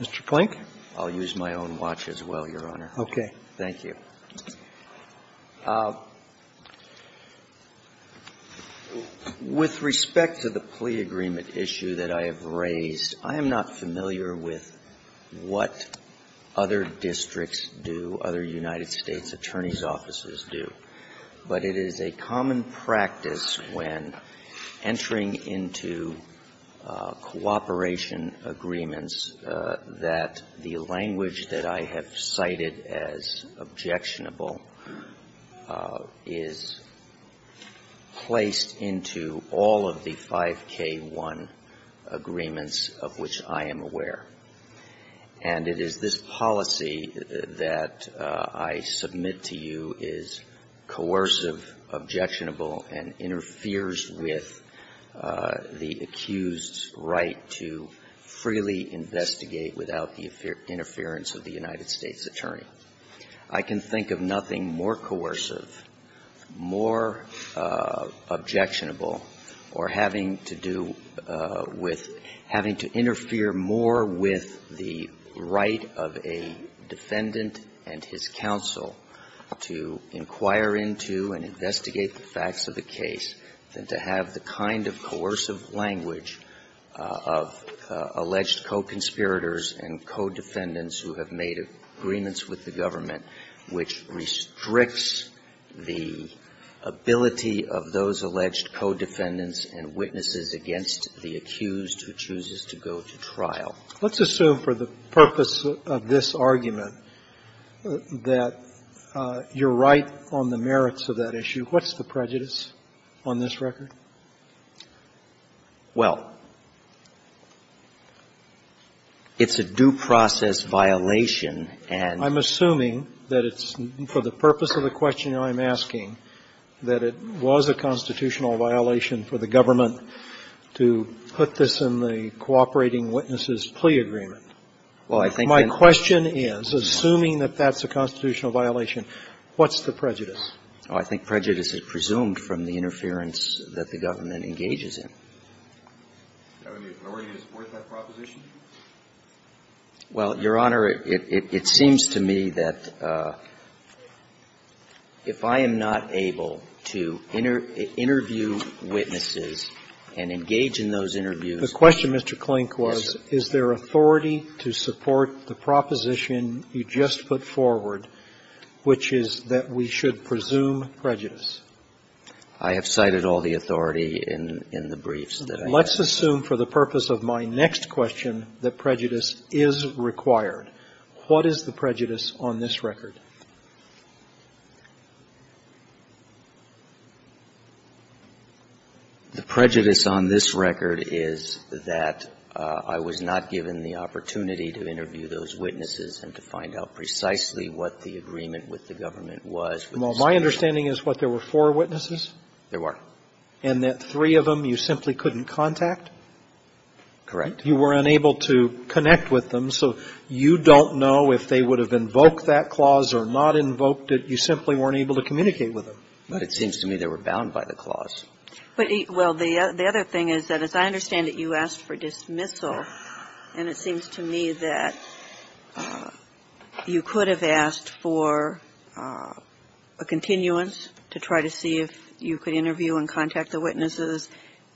Mr. Plank. I'll use my own watch as well, Your Honor. Okay. Thank you. With respect to the plea agreement issue that I have raised, I am not familiar with what other districts do, other United States attorneys' offices do. But it is a common practice when entering into cooperation agreements that the language that I have cited as objectionable is placed into all of the 5K1 agreements of which I am aware. And it is this policy that I submit to you is coercive, objectionable, and interferes with the accused's right to freely investigate without the interference of the United States attorney. I can think of nothing more coercive, more objectionable, or having to do with having to interfere more with the right of a defendant and his counsel to inquire into and investigate the facts of the case than to have the kind of coercive language of alleged co-conspirators and co-defendants who have made agreements with the government which restricts the ability of those alleged co-defendants and witnesses against the accused who chooses to go to trial. Let's assume for the purpose of this argument that you're right on the merits of that issue. What's the prejudice on this record? Well, it's a due process violation, and the reason I'm saying it's a due process violation is that it's, for the purpose of the question I'm asking, that it was a constitutional violation for the government to put this in the cooperating witnesses plea agreement. My question is, assuming that that's a constitutional violation, what's the prejudice? Oh, I think prejudice is presumed from the interference that the government engages in. Do you have any authority to support that proposition? Well, Your Honor, it seems to me that if I am not able to interview witnesses and engage in those interviews the question, Mr. Klink, was, is there authority to support the proposition you just put forward, which is that we should presume prejudice? I have cited all the authority in the briefs that I have. Let's assume for the purpose of my next question that prejudice is required. What is the prejudice on this record? The prejudice on this record is that I was not given the opportunity to interview those witnesses and to find out precisely what the agreement with the government was. Well, my understanding is what, there were four witnesses? There were. And that three of them you simply couldn't contact? Correct. You were unable to connect with them, so you don't know if they would have invoked that clause or not invoked it. You simply weren't able to communicate with them. But it seems to me they were bound by the clause. But, well, the other thing is that as I understand it, you asked for dismissal. And it seems to me that you could have asked for a continuance to try to see if you could interview and contact the witnesses.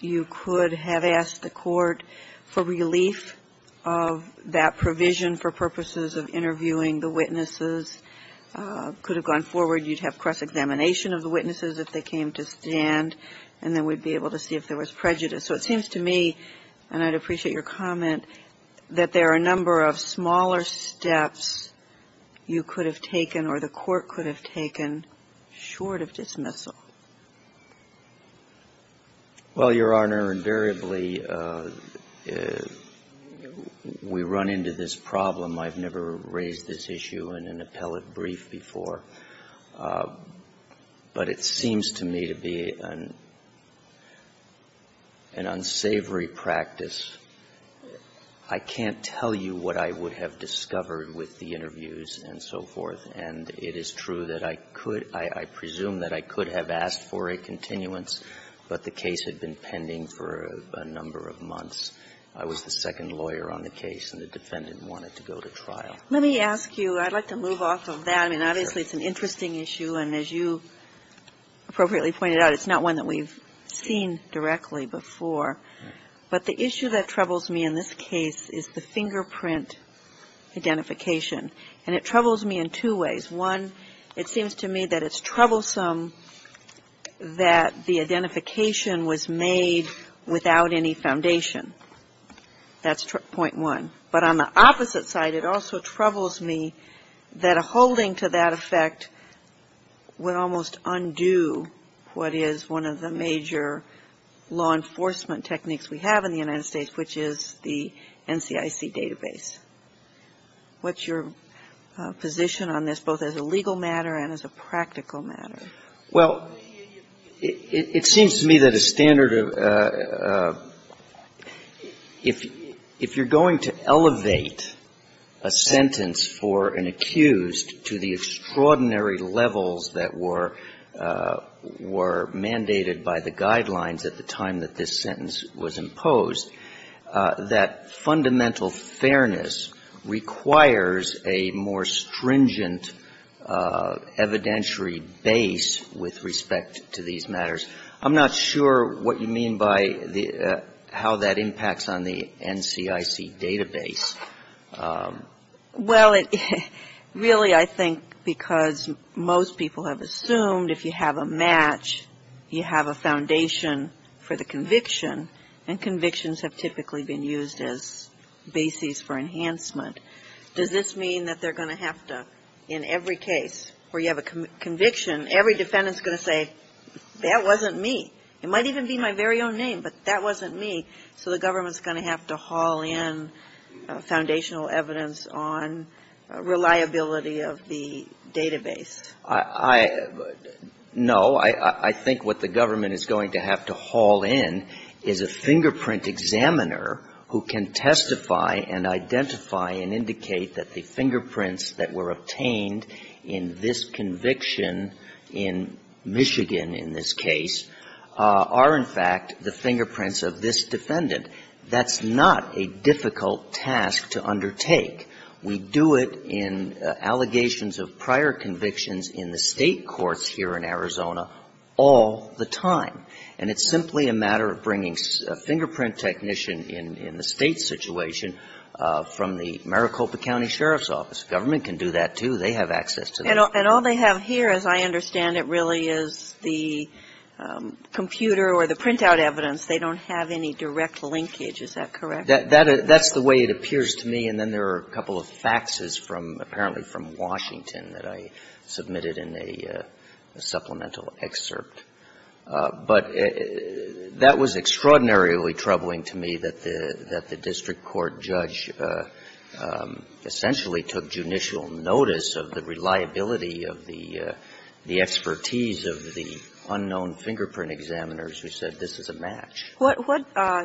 You could have asked the court for relief of that provision for purposes of interviewing the witnesses. Could have gone forward. You'd have cross-examination of the witnesses if they came to stand, and then we'd be able to see if there was prejudice. So it seems to me, and I'd appreciate your comment, that there are a number of smaller steps you could have taken or the court could have taken short of dismissal. Well, Your Honor, invariably we run into this problem. I've never raised this issue in an appellate brief before. But it seems to me to be an unsavory practice. I can't tell you what I would have discovered with the interviews and so forth. And it is true that I could – I presume that I could have asked for a continuance, but the case had been pending for a number of months. I was the second lawyer on the case, and the defendant wanted to go to trial. Let me ask you, I'd like to move off of that. I mean, obviously it's an interesting issue, and as you appropriately pointed out, it's not one that we've seen directly before. But the issue that troubles me in this case is the fingerprint identification. And it troubles me in two ways. One, it seems to me that it's troublesome that the identification was made without any foundation. That's point one. But on the opposite side, it also troubles me that a holding to that effect would almost undo what is one of the major law enforcement techniques we have in the United States, which is the NCIC database. What's your position on this, both as a legal matter and as a practical matter? Well, it seems to me that a standard of – if you're going to elevate a sentence for an accused to the extraordinary levels that were mandated by the guidelines at the time that this sentence was imposed, that fundamental fairness requires a more stringent evidentiary base with respect to these matters. I'm not sure what you mean by how that impacts on the NCIC database. Well, really I think because most people have assumed if you have a match, you have a foundation for the conviction, and convictions have typically been used as bases for enhancement. Does this mean that they're going to have to, in every case where you have a conviction, every defendant's going to say, that wasn't me. It might even be my very own name, but that wasn't me. So the government's going to have to haul in foundational evidence on reliability of the database. I – no. I think what the government is going to have to haul in is a fingerprint examiner who can testify and identify and indicate that the fingerprints that were obtained in this conviction in Michigan, in this case, are, in fact, the fingerprints of this defendant. That's not a difficult task to undertake. We do it in allegations of prior convictions in the state courts here in Arizona all the time. And it's simply a matter of bringing a fingerprint technician in the state's situation from the Maricopa County Sheriff's Office. Government can do that, too. They have access to that. And all they have here, as I understand it, really is the computer or the printout evidence. They don't have any direct linkage. Is that correct? That's the way it appears to me. And then there are a couple of faxes from – apparently from Washington that I submitted in a supplemental excerpt. But that was extraordinarily troubling to me that the district court judge essentially took judicial notice of the reliability of the expertise of the unknown fingerprint examiners who said, this is a match. What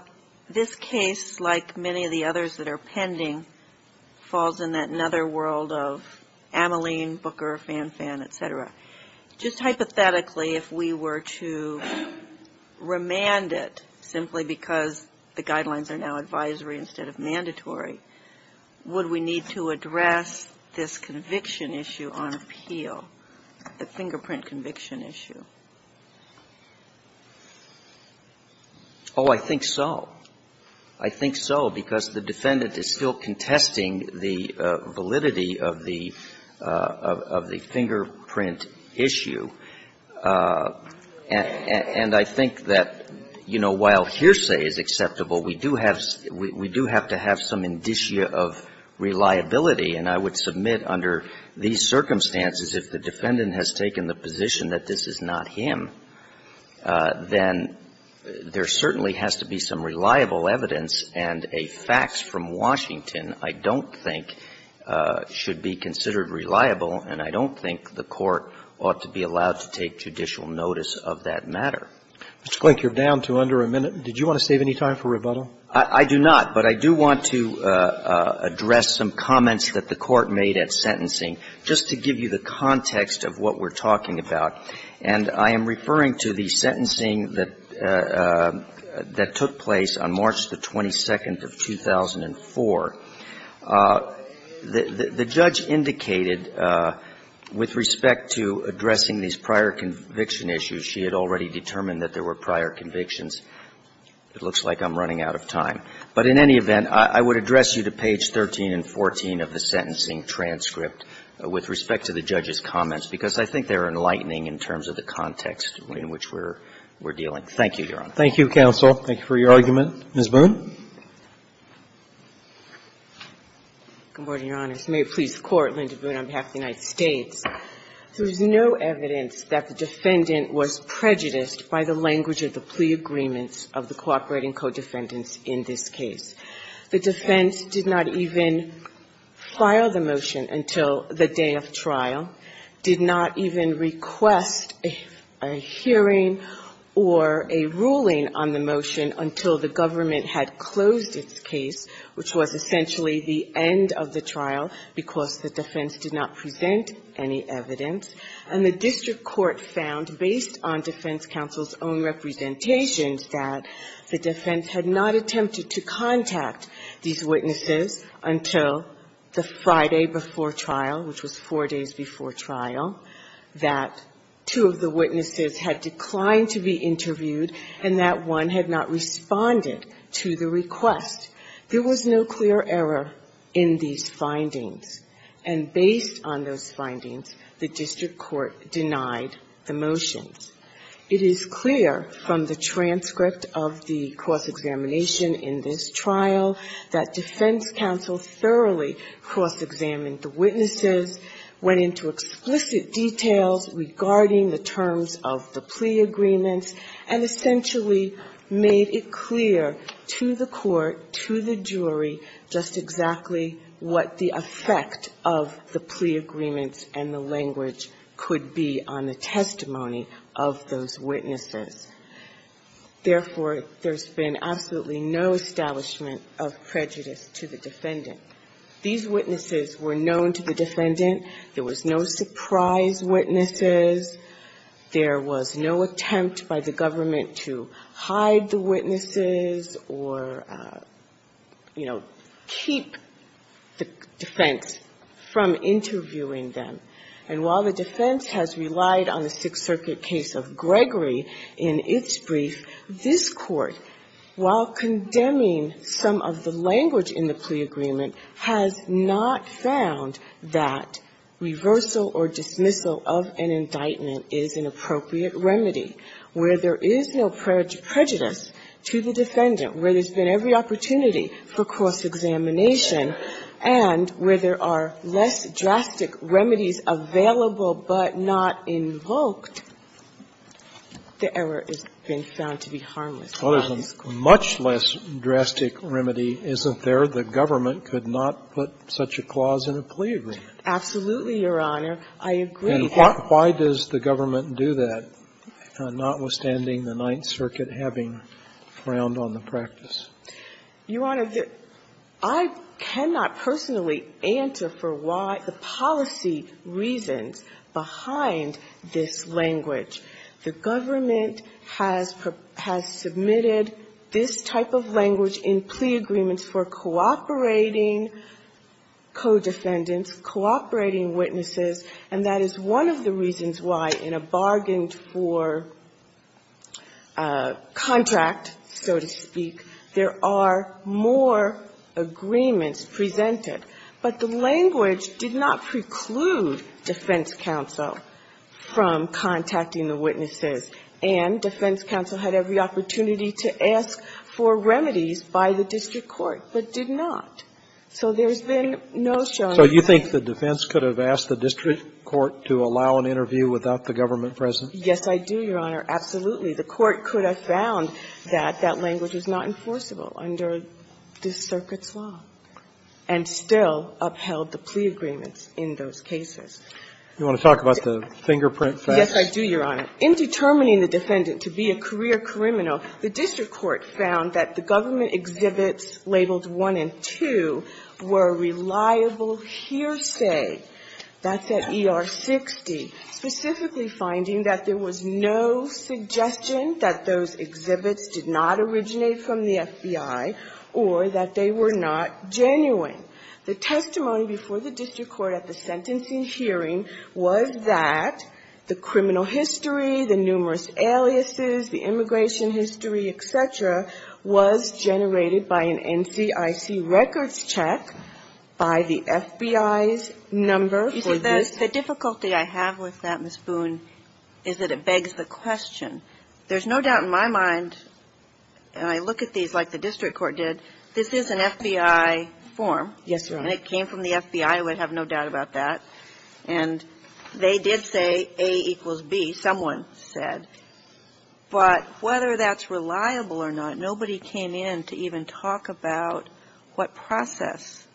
– this case, like many of the others that are pending, falls in that netherworld of Ameline, Booker, Fanfan, et cetera. Just hypothetically, if we were to remand it simply because the guidelines are now advisory instead of mandatory, would we need to address this conviction issue on appeal, the fingerprint conviction issue? Oh, I think so. Because the defendant is still contesting the validity of the fingerprint issue. And I think that, you know, while hearsay is acceptable, we do have – we do have to have some indicia of reliability. And I would submit under these circumstances, if the defendant has taken the position that this is not him, then there certainly has to be some reliable evidence and a fax from Washington I don't think should be considered reliable, and I don't think the Court ought to be allowed to take judicial notice of that matter. Mr. Klink, you're down to under a minute. Did you want to save any time for rebuttal? I do not. But I do want to address some comments that the Court made at sentencing, just to give you the context of what we're talking about. And I am referring to the sentencing that took place on March the 22nd of 2004. The judge indicated with respect to addressing these prior conviction issues, she had already determined that there were prior convictions. It looks like I'm running out of time. But in any event, I would address you to page 13 and 14 of the sentencing transcript with respect to the judge's comments, because I think they're enlightening in terms of the context in which we're dealing. Thank you, Your Honor. Thank you, counsel. Thank you for your argument. Ms. Boone. Good morning, Your Honor. As the mayor of the police court, Linda Boone, on behalf of the United States, there is no evidence that the defendant was prejudiced by the language of the plea agreements of the cooperating co-defendants in this case. The defense did not even file the motion until the day of trial, did not even request a hearing or a ruling on the motion until the government had closed its case, which was essentially the end of the trial, because the defense did not present any evidence. And the district court found, based on defense counsel's own representations, that the defense had not attempted to contact these witnesses until the Friday before trial, which was four days before trial, that two of the witnesses had declined to be interviewed, and that one had not responded to the request. There was no clear error in these findings. And based on those findings, the district court denied the motions. It is clear from the transcript of the cross-examination in this trial that defense counsel thoroughly cross-examined the witnesses, went into explicit details regarding the terms of the plea agreements, and essentially made it clear to the court, to the jury, just exactly what the effect of the plea agreements and the language could be on the testimony of those witnesses. Therefore, there's been absolutely no establishment of prejudice to the defendant. These witnesses were known to the defendant. There was no surprise witnesses. There was no attempt by the government to hide the witnesses or, you know, keep the defense from interviewing them. And while the defense has relied on the Sixth Circuit case of Gregory in its brief, this Court, while condemning some of the language in the plea agreement, has not found that reversal or dismissal of an indictment is an appropriate remedy, where there is no prejudice to the defendant, where there's been every opportunity for cross-examination, and where there are less drastic remedies available but not invoked, the error has been found to be harmless. Well, there's a much less drastic remedy, isn't there? The government could not put such a clause in a plea agreement. Absolutely, Your Honor. I agree. And why does the government do that, notwithstanding the Ninth Circuit having frowned on the practice? Your Honor, I cannot personally answer for why the policy reasons behind this language. The government has submitted this type of language in plea agreements for cooperating co-defendants, cooperating witnesses, and that is one of the reasons why, in a bargained for contract, so to speak, there are more agreements presented. But the language did not preclude defense counsel from contacting the witnesses, and defense counsel had every opportunity to ask for remedies by the district court, but did not. So there's been no showing of that. So you think the defense could have asked the district court to allow an interview without the government present? Yes, I do, Your Honor, absolutely. The court could have found that that language is not enforceable under this Circuit's law and still upheld the plea agreements in those cases. You want to talk about the fingerprint facts? Yes, I do, Your Honor. In determining the defendant to be a career criminal, the district court found that the government exhibits labeled one and two were reliable hearsay. That's at ER 60. Specifically finding that there was no suggestion that those exhibits did not originate from the FBI or that they were not genuine. The testimony before the district court at the sentencing hearing was that the criminal history, the numerous aliases, the immigration history, et cetera, was generated by an NCIC records check by the FBI's number for this. You see, the difficulty I have with that, Ms. Boone, is that it begs the question. There's no doubt in my mind, and I look at these like the district court did, this is an FBI form. Yes, Your Honor. And it came from the FBI. I would have no doubt about that. And they did say A equals B, someone said. But whether that's reliable or not, nobody came in to even talk about what process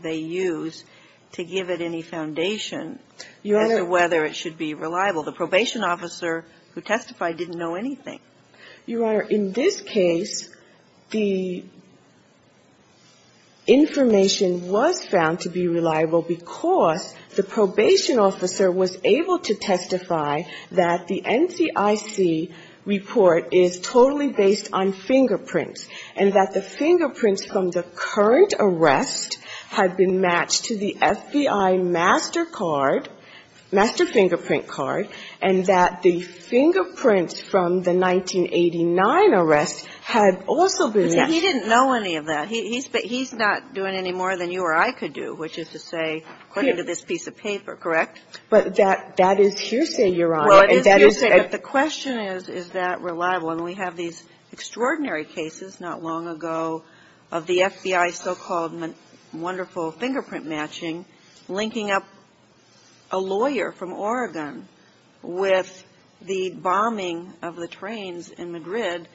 they use to give it any foundation as to whether it should be reliable. The probation officer who testified didn't know anything. Your Honor, in this case, the information was found to be reliable because the NCIC report is totally based on fingerprints, and that the fingerprints from the current arrest had been matched to the FBI master card, master fingerprint card, and that the fingerprints from the 1989 arrest had also been matched. But he didn't know any of that. He's not doing any more than you or I could do, which is to say, according to this piece of paper, correct? But that is hearsay, Your Honor. Well, it is hearsay. But the question is, is that reliable? And we have these extraordinary cases not long ago of the FBI's so-called wonderful fingerprint matching linking up a lawyer from Oregon with the bombing of the trains in Madrid,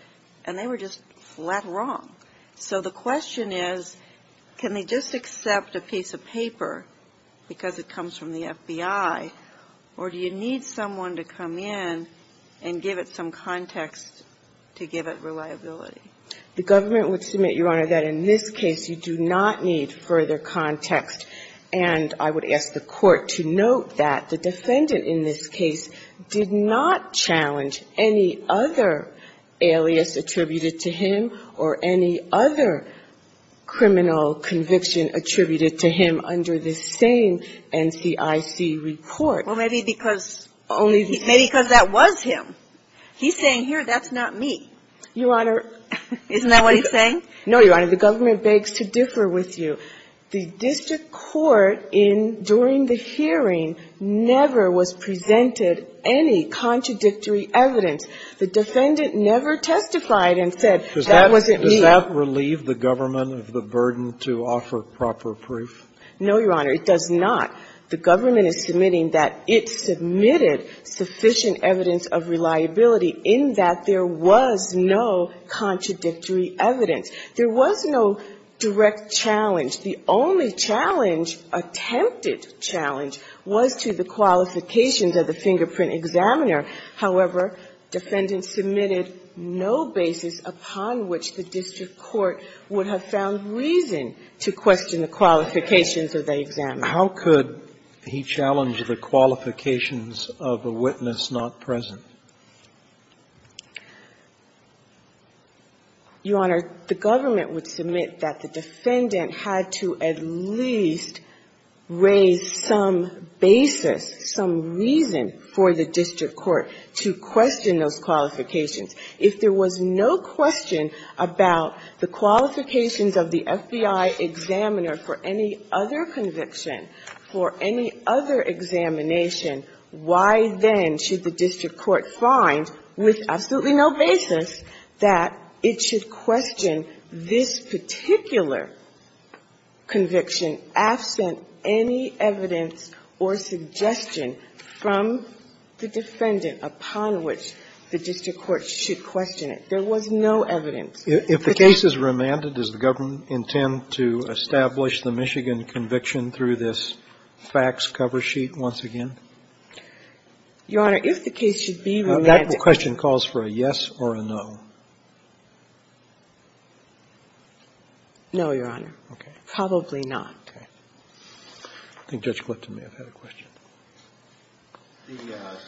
and they were just flat wrong. So the question is, can they just accept a piece of paper because it comes from the FBI, or do you need someone to come in and give it some context to give it reliability? The government would submit, Your Honor, that in this case you do not need further context. And I would ask the Court to note that the defendant in this case did not challenge any other alias attributed to him or any other criminal conviction attributed to him under this same NCIC report. Well, maybe because that was him. He's saying, here, that's not me. Your Honor. Isn't that what he's saying? No, Your Honor. The government begs to differ with you. The district court during the hearing never was presented any contradictory evidence. The defendant never testified and said, that wasn't me. Does that relieve the government of the burden to offer proper proof? No, Your Honor. It does not. The government is submitting that it submitted sufficient evidence of reliability in that there was no contradictory evidence. There was no direct challenge. The only challenge, attempted challenge, was to the qualifications of the fingerprint examiner. However, defendants submitted no basis upon which the district court would have found reason to question the qualifications of the examiner. How could he challenge the qualifications of a witness not present? Your Honor, the government would submit that the defendant had to at least raise some basis, some reason, for the district court to question those qualifications. If there was no question about the qualifications of the FBI examiner for any other conviction, for any other examination, why then should the district court find, with absolutely no basis, that it should question this particular conviction absent any evidence or suggestion from the defendant upon which the district court should question it? There was no evidence. If the case is remanded, does the government intend to establish the Michigan conviction through this facts cover sheet once again? Your Honor, if the case should be remanded. That question calls for a yes or a no. No, Your Honor. Okay. Probably not. Okay. I think Judge Clifton may have had a question. The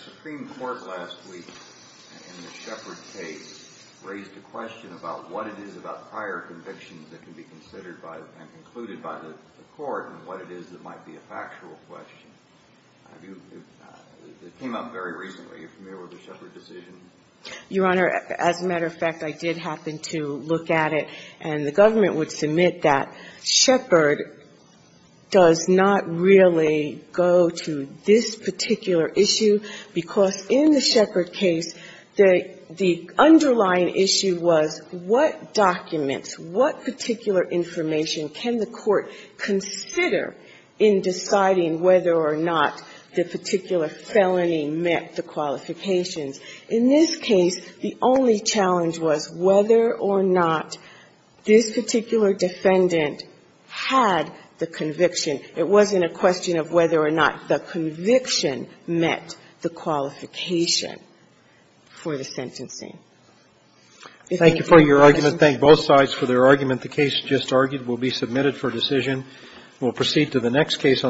Supreme Court last week in the Shepard case raised a question about what it is about prior convictions that can be considered by and concluded by the court and what it is that might be a factual question. It came up very recently. Are you familiar with the Shepard decision? Your Honor, as a matter of fact, I did happen to look at it. And the government would submit that Shepard does not really go to this particular issue, because in the Shepard case, the underlying issue was what documents, what particular information can the court consider in deciding whether or not the particular felony met the qualifications? In this case, the only challenge was whether or not the defendant's This particular defendant had the conviction. It wasn't a question of whether or not the conviction met the qualification for the sentencing. Thank you for your argument. Thank both sides for their argument. The case just argued will be submitted for decision. We'll proceed to the next case on the agenda.